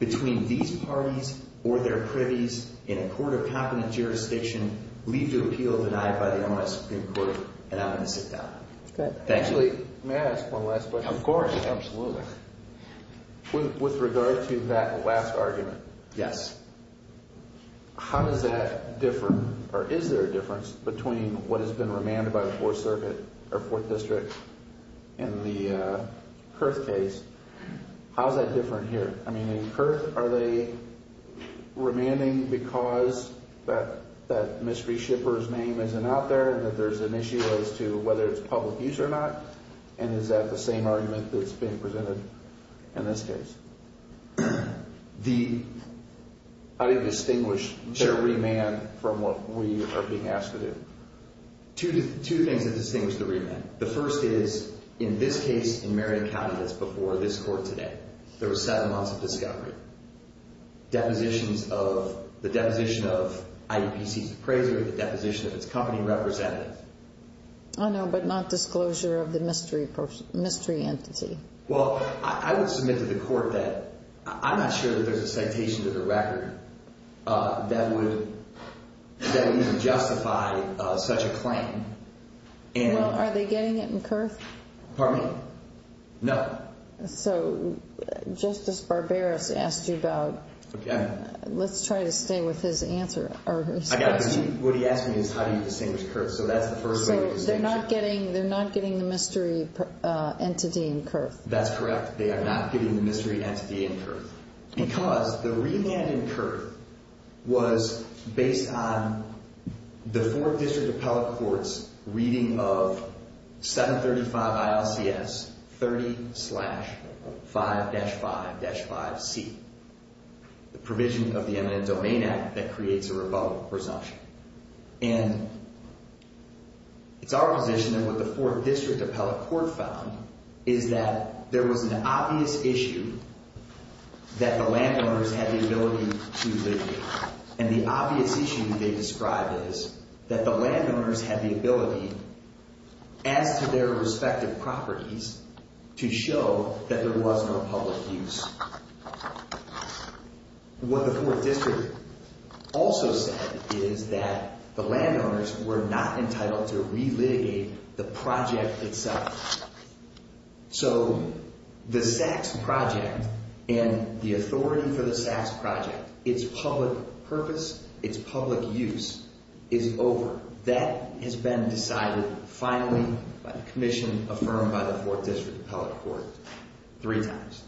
Between these parties or their privies in a court of competent jurisdiction, leave the appeal denied by the MS Supreme Court, and I'm going to sit down. Okay. Actually, may I ask one last question? Of course. Absolutely. With regard to that last argument… Yes. How does that differ, or is there a difference, between what has been remanded by the Fourth Circuit or Fourth District in the Kurth case? How is that different here? I mean, in Kurth, are they remanding because that mystery shipper's name isn't out there and that there's an issue as to whether it's public use or not? And is that the same argument that's being presented in this case? I didn't distinguish their remand from what we are being asked to do. Two things that distinguish the remand. The first is, in this case, in Marion County, that's before this court today, there was seven months of discovery. Depositions of the deposition of IEPC's appraiser, the deposition of its company representative. I know, but not disclosure of the mystery entity. Well, I would submit to the court that I'm not sure that there's a citation to the record that would even justify such a claim. Well, are they getting it in Kurth? Pardon me? No. So, Justice Barberos asked you about… Okay. Let's try to stay with his answer. I got it. What he asked me is how do you distinguish Kurth, so that's the first way to distinguish it. They're not getting the mystery entity in Kurth. That's correct. They are not getting the mystery entity in Kurth. Because the remand in Kurth was based on the four district appellate courts' reading of 735 ILCS 30-5-5-5C, the provision of the Eminent Domain Act that creates a rebuttal presumption. And it's our position that what the four district appellate court found is that there was an obvious issue that the landowners had the ability to… And the obvious issue they described is that the landowners had the ability, as to their respective properties, to show that there was no public use. What the four district also said is that the landowners were not entitled to relitigate the project itself. So, the Sachs project and the authority for the Sachs project, its public purpose, its public use, is over. That has been decided finally by the commission affirmed by the four district appellate court three times.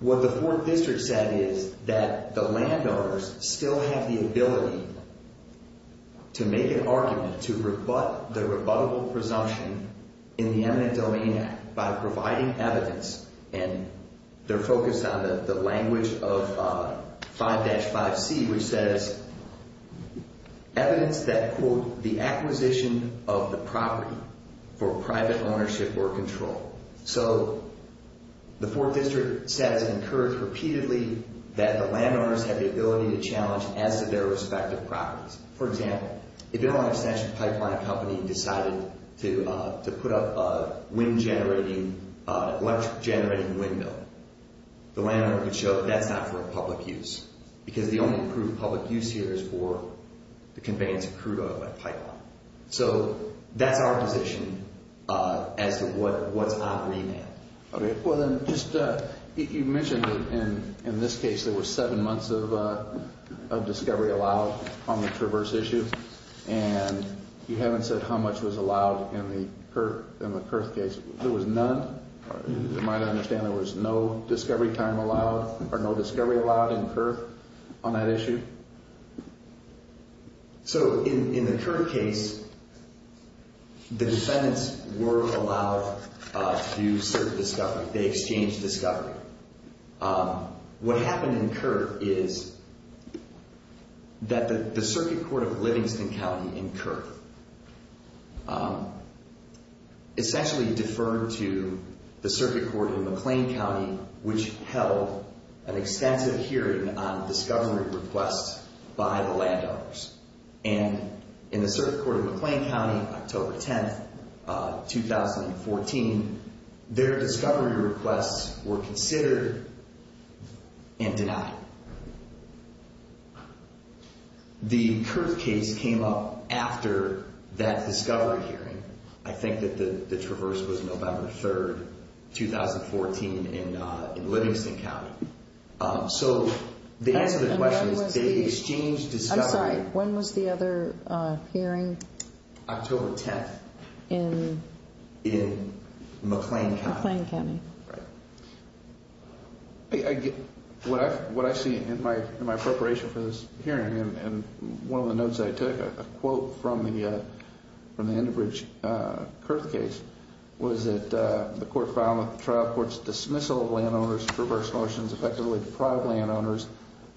What the four district said is that the landowners still have the ability to make an argument to rebut the rebuttable presumption in the Eminent Domain Act by providing evidence. And they're focused on the language of 5-5C, which says, evidence that, quote, the acquisition of the property for private ownership or control. So, the four district says and incurs repeatedly that the landowners have the ability to challenge as to their respective properties. For example, if you're an extension pipeline company and decided to put up a wind generating, electric generating windmill, the landowner could show that that's not for public use. Because the only approved public use here is for the conveyance of crude oil by pipeline. So, that's our position as to what's operating there. Okay. Well, then, just you mentioned in this case there were seven months of discovery allowed on the Traverse issue. And you haven't said how much was allowed in the Kurth case. There was none? As you might understand, there was no discovery time allowed or no discovery allowed in Kurth on that issue? So, in the Kurth case, the defendants were allowed to search discovery. They exchanged discovery. What happened in Kurth is that the circuit court of Livingston County in Kurth essentially deferred to the circuit court in McLean County, which held an extensive hearing on discovery requests by the landowners. And in the circuit court of McLean County, October 10, 2014, their discovery requests were considered and denied. The Kurth case came up after that discovery hearing. I think that the Traverse was November 3, 2014, in Livingston County. So, the answer to the question is they exchanged discovery. I'm sorry. When was the other hearing? October 10th in McLean County. McLean County. Right. What I see in my preparation for this hearing and one of the notes I took, a quote from the Enbridge Kurth case, was that the court found that the trial court's dismissal of landowners' Traverse motions effectively deprived landowners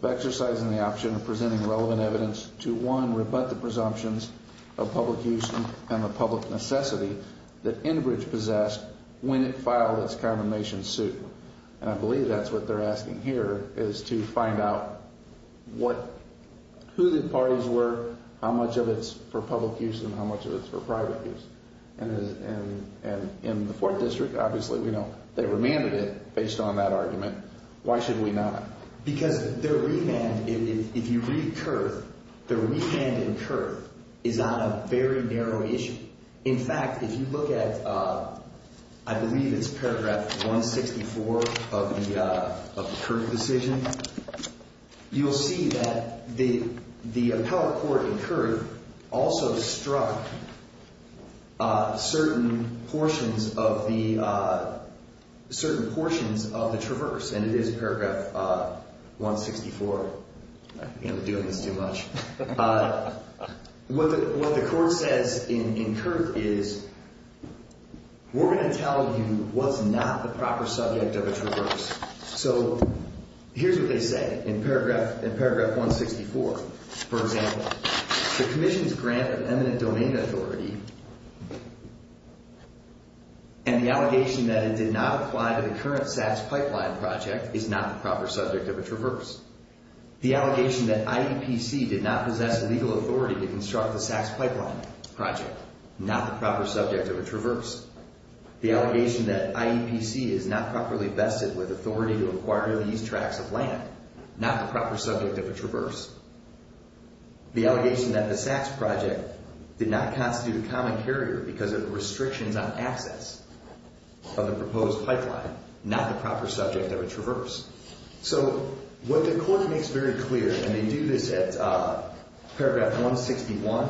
of exercising the option of presenting relevant evidence to, one, rebut the presumptions of public use and the public necessity that Enbridge possessed when it filed its condemnation suit. And I believe that's what they're asking here is to find out who the parties were, how much of it's for public use, and how much of it's for private use. And in the Fourth District, obviously, we know they remanded it based on that argument. Why should we not? Because their remand, if you read Kurth, their remand in Kurth is on a very narrow issue. In fact, if you look at, I believe it's paragraph 164 of the Kurth decision, you'll see that the appellate court in Kurth also struck certain portions of the Traverse. And it is paragraph 164. I think I'm doing this too much. What the court says in Kurth is, we're going to tell you what's not the proper subject of a Traverse. So here's what they say in paragraph 164. For example, the commission's grant of eminent domain authority and the allegation that it did not apply to the current SACS pipeline project is not the proper subject of a Traverse. The allegation that IEPC did not possess the legal authority to construct the SACS pipeline project, not the proper subject of a Traverse. The allegation that IEPC is not properly vested with authority to acquire these tracts of land, not the proper subject of a Traverse. The allegation that the SACS project did not constitute a common carrier because of the restrictions on access of the proposed pipeline, not the proper subject of a Traverse. So what the court makes very clear, and they do this at paragraph 161,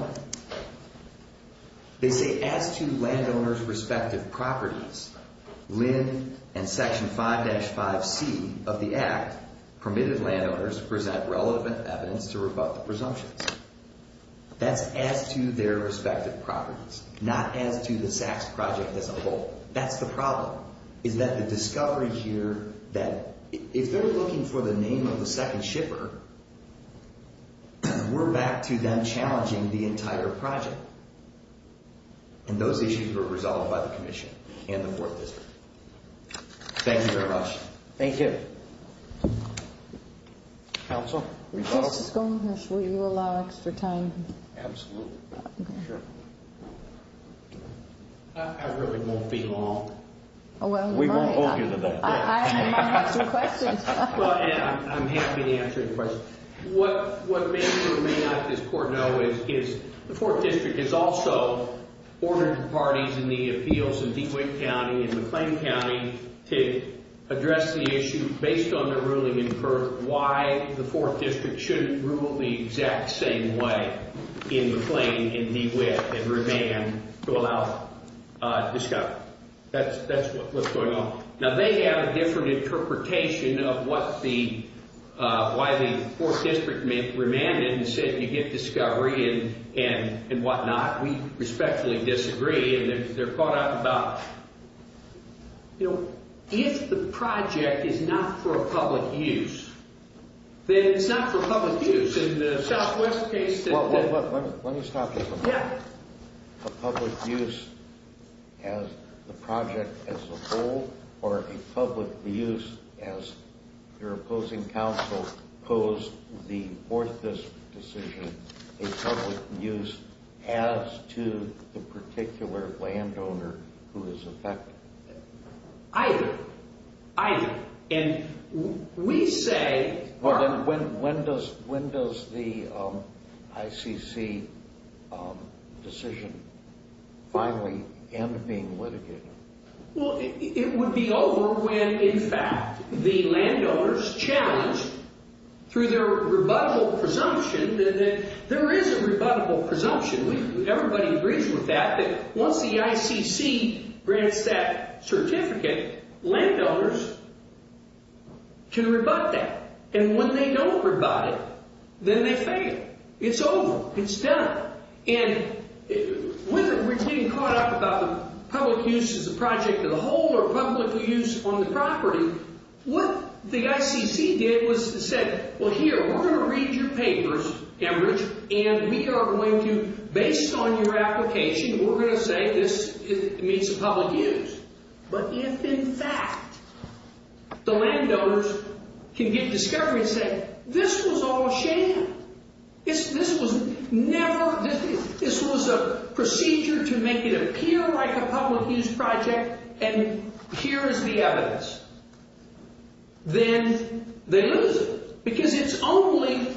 they say, as to landowners' respective properties, Lynn and Section 5-5C of the Act permitted landowners to present relevant evidence to rebut the presumptions. That's as to their respective properties, not as to the SACS project as a whole. That's the problem, is that the discovery here that if they're looking for the name of the second shipper, we're back to them challenging the entire project. And those issues were resolved by the commission and the 4th District. Thank you very much. Thank you. Counsel? Mr. Sconehurst, will you allow extra time? Absolutely. Sure. I really won't be long. We won't hold you to that. I'm happy to answer any questions. What many of you who may not be in this court know is the 4th District has also ordered parties in the appeals in DeWitt County and McLean County to address the issue based on their ruling in court why the 4th District shouldn't rule the exact same way in McLean and DeWitt and remain to allow discovery. That's what's going on. Now, they have a different interpretation of why the 4th District remanded and said you get discovery and whatnot. We respectfully disagree. And they're caught up about, you know, if the project is not for public use, then it's not for public use. Let me stop you for a moment. A public use as the project as a whole or a public use as your opposing counsel posed the 4th District decision, a public use as to the particular landowner who is affected? Either. Either. When does the ICC decision finally end being litigated? Well, it would be over when, in fact, the landowners challenged through their rebuttable presumption that there is a rebuttable presumption. Everybody agrees with that, that once the ICC grants that certificate, landowners can rebut that. And when they don't rebut it, then they fail. It's over. It's done. And when they're caught up about the public use as a project as a whole or public use on the property, what the ICC did was to say, well, here, we're going to read your papers, Cambridge, and we are going to, based on your application, we're going to say this meets the public use. But if, in fact, the landowners can get discovery and say, this was all a sham, this was never, this was a procedure to make it appear like a public use project, and here is the evidence, then they lose it. Because it's only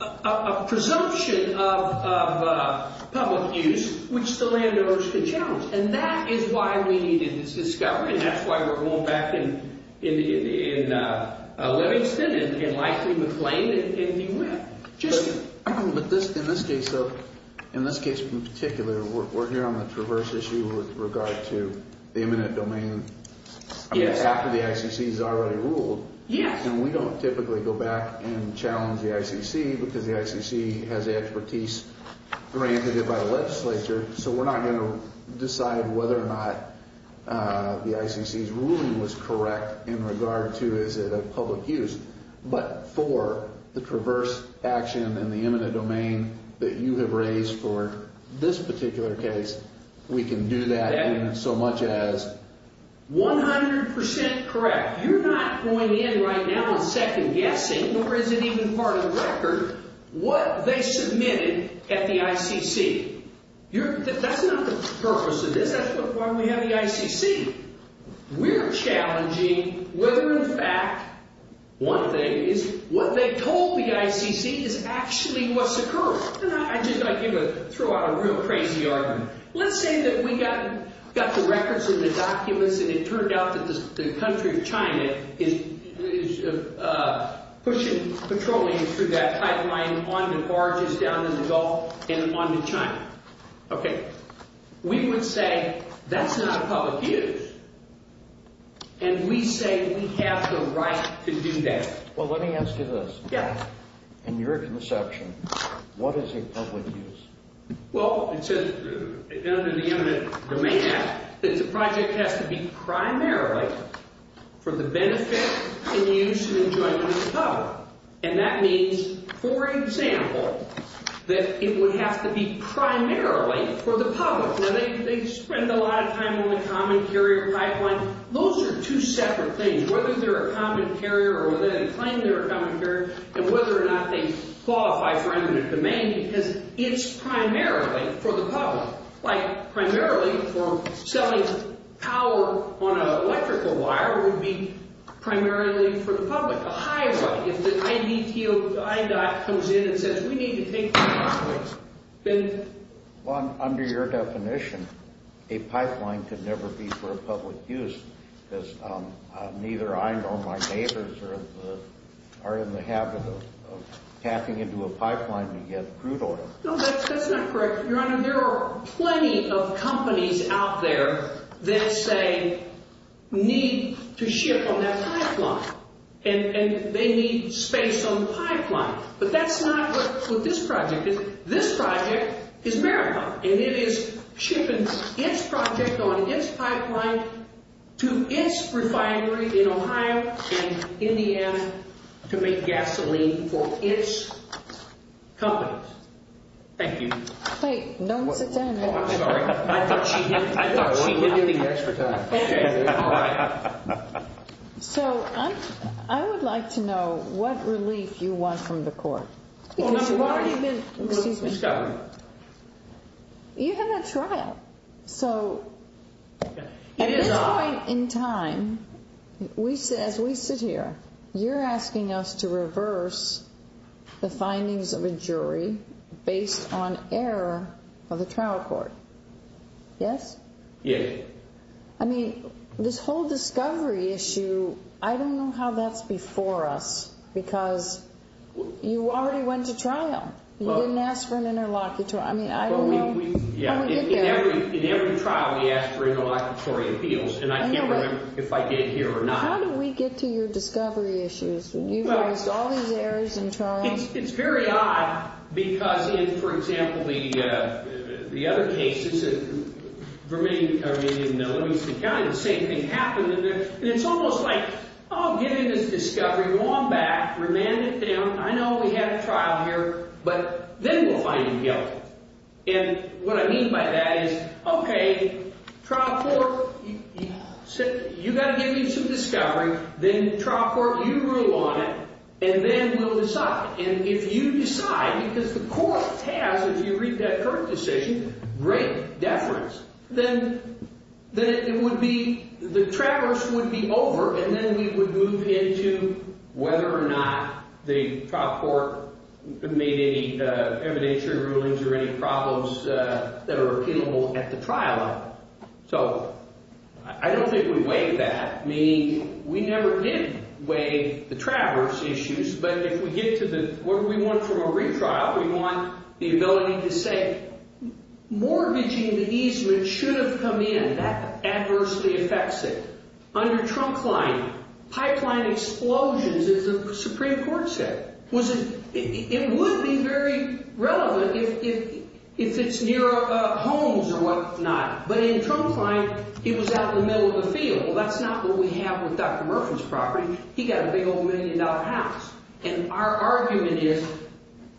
a presumption of public use which the landowners could challenge. And that is why we needed this discovery, and that's why we're going back in Livingston and likely McLean and Newham. But in this case, in this case in particular, we're here on the traverse issue with regard to the eminent domain after the ICC has already ruled. And we don't typically go back and challenge the ICC because the ICC has the expertise granted by the legislature, so we're not going to decide whether or not the ICC's ruling was correct in regard to is it a public use. But for the traverse action and the eminent domain that you have raised for this particular case, we can do that in so much as 100% correct. You're not going in right now and second guessing, or is it even part of the record, what they submitted at the ICC. That's not the purpose of this. That's why we have the ICC. We're challenging whether, in fact, one thing is what they told the ICC is actually what's occurring. And I just, I give a, throw out a real crazy argument. Let's say that we got the records and the documents and it turned out that the country of China is pushing petroleum through that pipeline on the barges down in the Gulf and onto China. Okay. We would say that's not a public use. And we say we have the right to do that. Well, let me ask you this. Yeah. In your conception, what is a public use? Well, it says under the eminent domain act that the project has to be primarily for the benefit and use and enjoyment of the public. And that means, for example, that it would have to be primarily for the public. Now, they spend a lot of time on the common carrier pipeline. Those are two separate things, whether they're a common carrier or whether they claim they're a common carrier and whether or not they qualify for eminent domain. Because it's primarily for the public. Like, primarily for selling power on an electrical wire would be primarily for the public. A highway, if the IDTO, the INDOT comes in and says, we need to take the highways, then? Well, under your definition, a pipeline could never be for public use. Because neither I nor my neighbors are in the habit of tapping into a pipeline to get crude oil. No, that's not correct, Your Honor. There are plenty of companies out there that say need to ship on that pipeline. And they need space on the pipeline. But that's not what this project is. This project is marijuana. And it is shipping its project on its pipeline to its refinery in Ohio and Indiana to make gasoline for its companies. Thank you. Hey, don't sit down. I'm sorry. I thought she hit me. I thought she hit you the extra time. All right. So I would like to know what relief you want from the court. You have a trial. So at this point in time, as we sit here, you're asking us to reverse the findings of a jury based on error of the trial court. Yes? Yes. I mean, this whole discovery issue, I don't know how that's before us because you already went to trial. You didn't ask for an interlocutor. I mean, I don't know how we get there. In every trial, we ask for interlocutory appeals. And I can't remember if I did here or not. How do we get to your discovery issues? You've raised all these areas in trial. I mean, it's very odd because in, for example, the other cases in Vermillion and Eloise County, the same thing happened. And it's almost like, oh, give me this discovery. Go on back. Remand it down. I know we had a trial here. But then we'll find him guilty. And what I mean by that is, okay, trial court, you got to give me some discovery. Then trial court, you rule on it. And then we'll decide. And if you decide, because the court has, if you read that court decision, great deference, then it would be, the traverse would be over. And then we would move into whether or not the trial court made any evidentiary rulings or any problems that are appealable at the trial end. So I don't think we weighed that, meaning we never did weigh the traverse issues. But if we get to the, what do we want from a retrial? We want the ability to say, mortgaging the easement should have come in. That adversely affects it. Under trunkline, pipeline explosions, as the Supreme Court said, it would be very relevant if it's near homes or whatnot. But in trunkline, he was out in the middle of the field. Well, that's not what we have with Dr. Murphy's property. He got a big old million-dollar house. And our argument is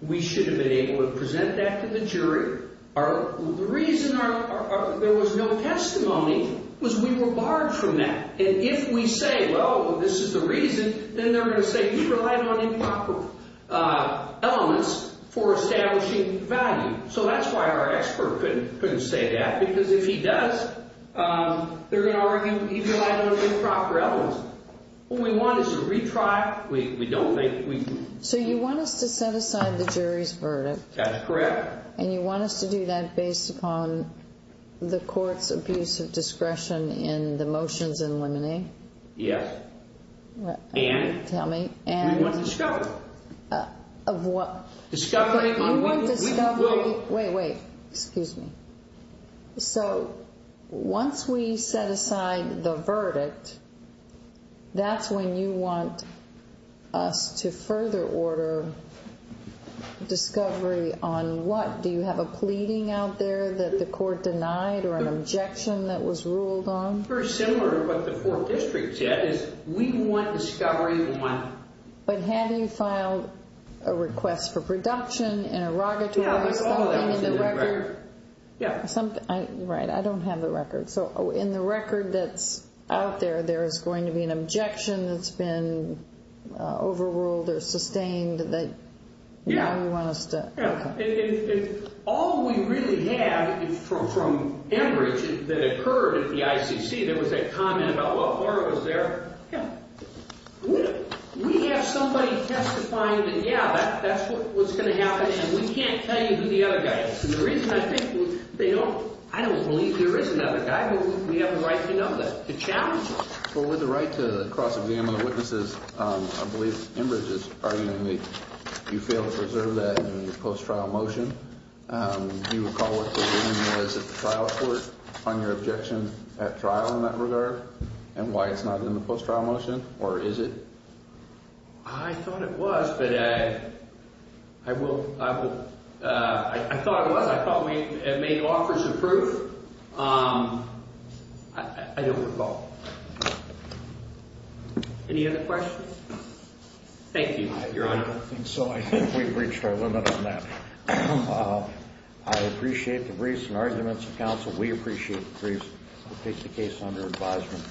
we should have been able to present that to the jury. The reason there was no testimony was we were barred from that. And if we say, well, this is the reason, then they're going to say we relied on improper elements for establishing value. So that's why our expert couldn't say that, because if he does, they're going to argue he relied on improper elements. What we want is a retrial. We don't think we can. So you want us to set aside the jury's verdict? That's correct. And you want us to do that based upon the court's abuse of discretion in the motions in limine? Yes. And? Tell me. And? We want discovery. Of what? Discovery on what? We want discovery. Wait, wait. Excuse me. So once we set aside the verdict, that's when you want us to further order discovery on what? Do you have a pleading out there that the court denied or an objection that was ruled on? Very similar to what the four districts had is we want discovery on what? But have you filed a request for production, an erogatory, something in the record? Yeah. Right. I don't have the record. So in the record that's out there, there is going to be an objection that's been overruled or sustained that you want us to? Yeah. And all we really have is from Enbridge that occurred at the ICC. There was a comment about, well, Laura was there. Yeah. We have somebody testifying that, yeah, that's what's going to happen, and we can't tell you who the other guy is. And the reason I think they don't, I don't believe there is another guy, but we have the right to know that. The challenge? Well, with the right to cross-examine the witnesses, I believe Enbridge is arguing that you failed to preserve that in the post-trial motion. Do you recall what the ruling was at the trial court on your objection at trial in that regard and why it's not in the post-trial motion, or is it? I thought it was, but I will – I thought it was. I thought we had made offers of proof. I don't recall. Any other questions? Thank you. Your Honor, I don't think so. We've reached our limit on that. I appreciate the briefs and arguments of counsel. We appreciate the briefs. We'll take the case under advisement.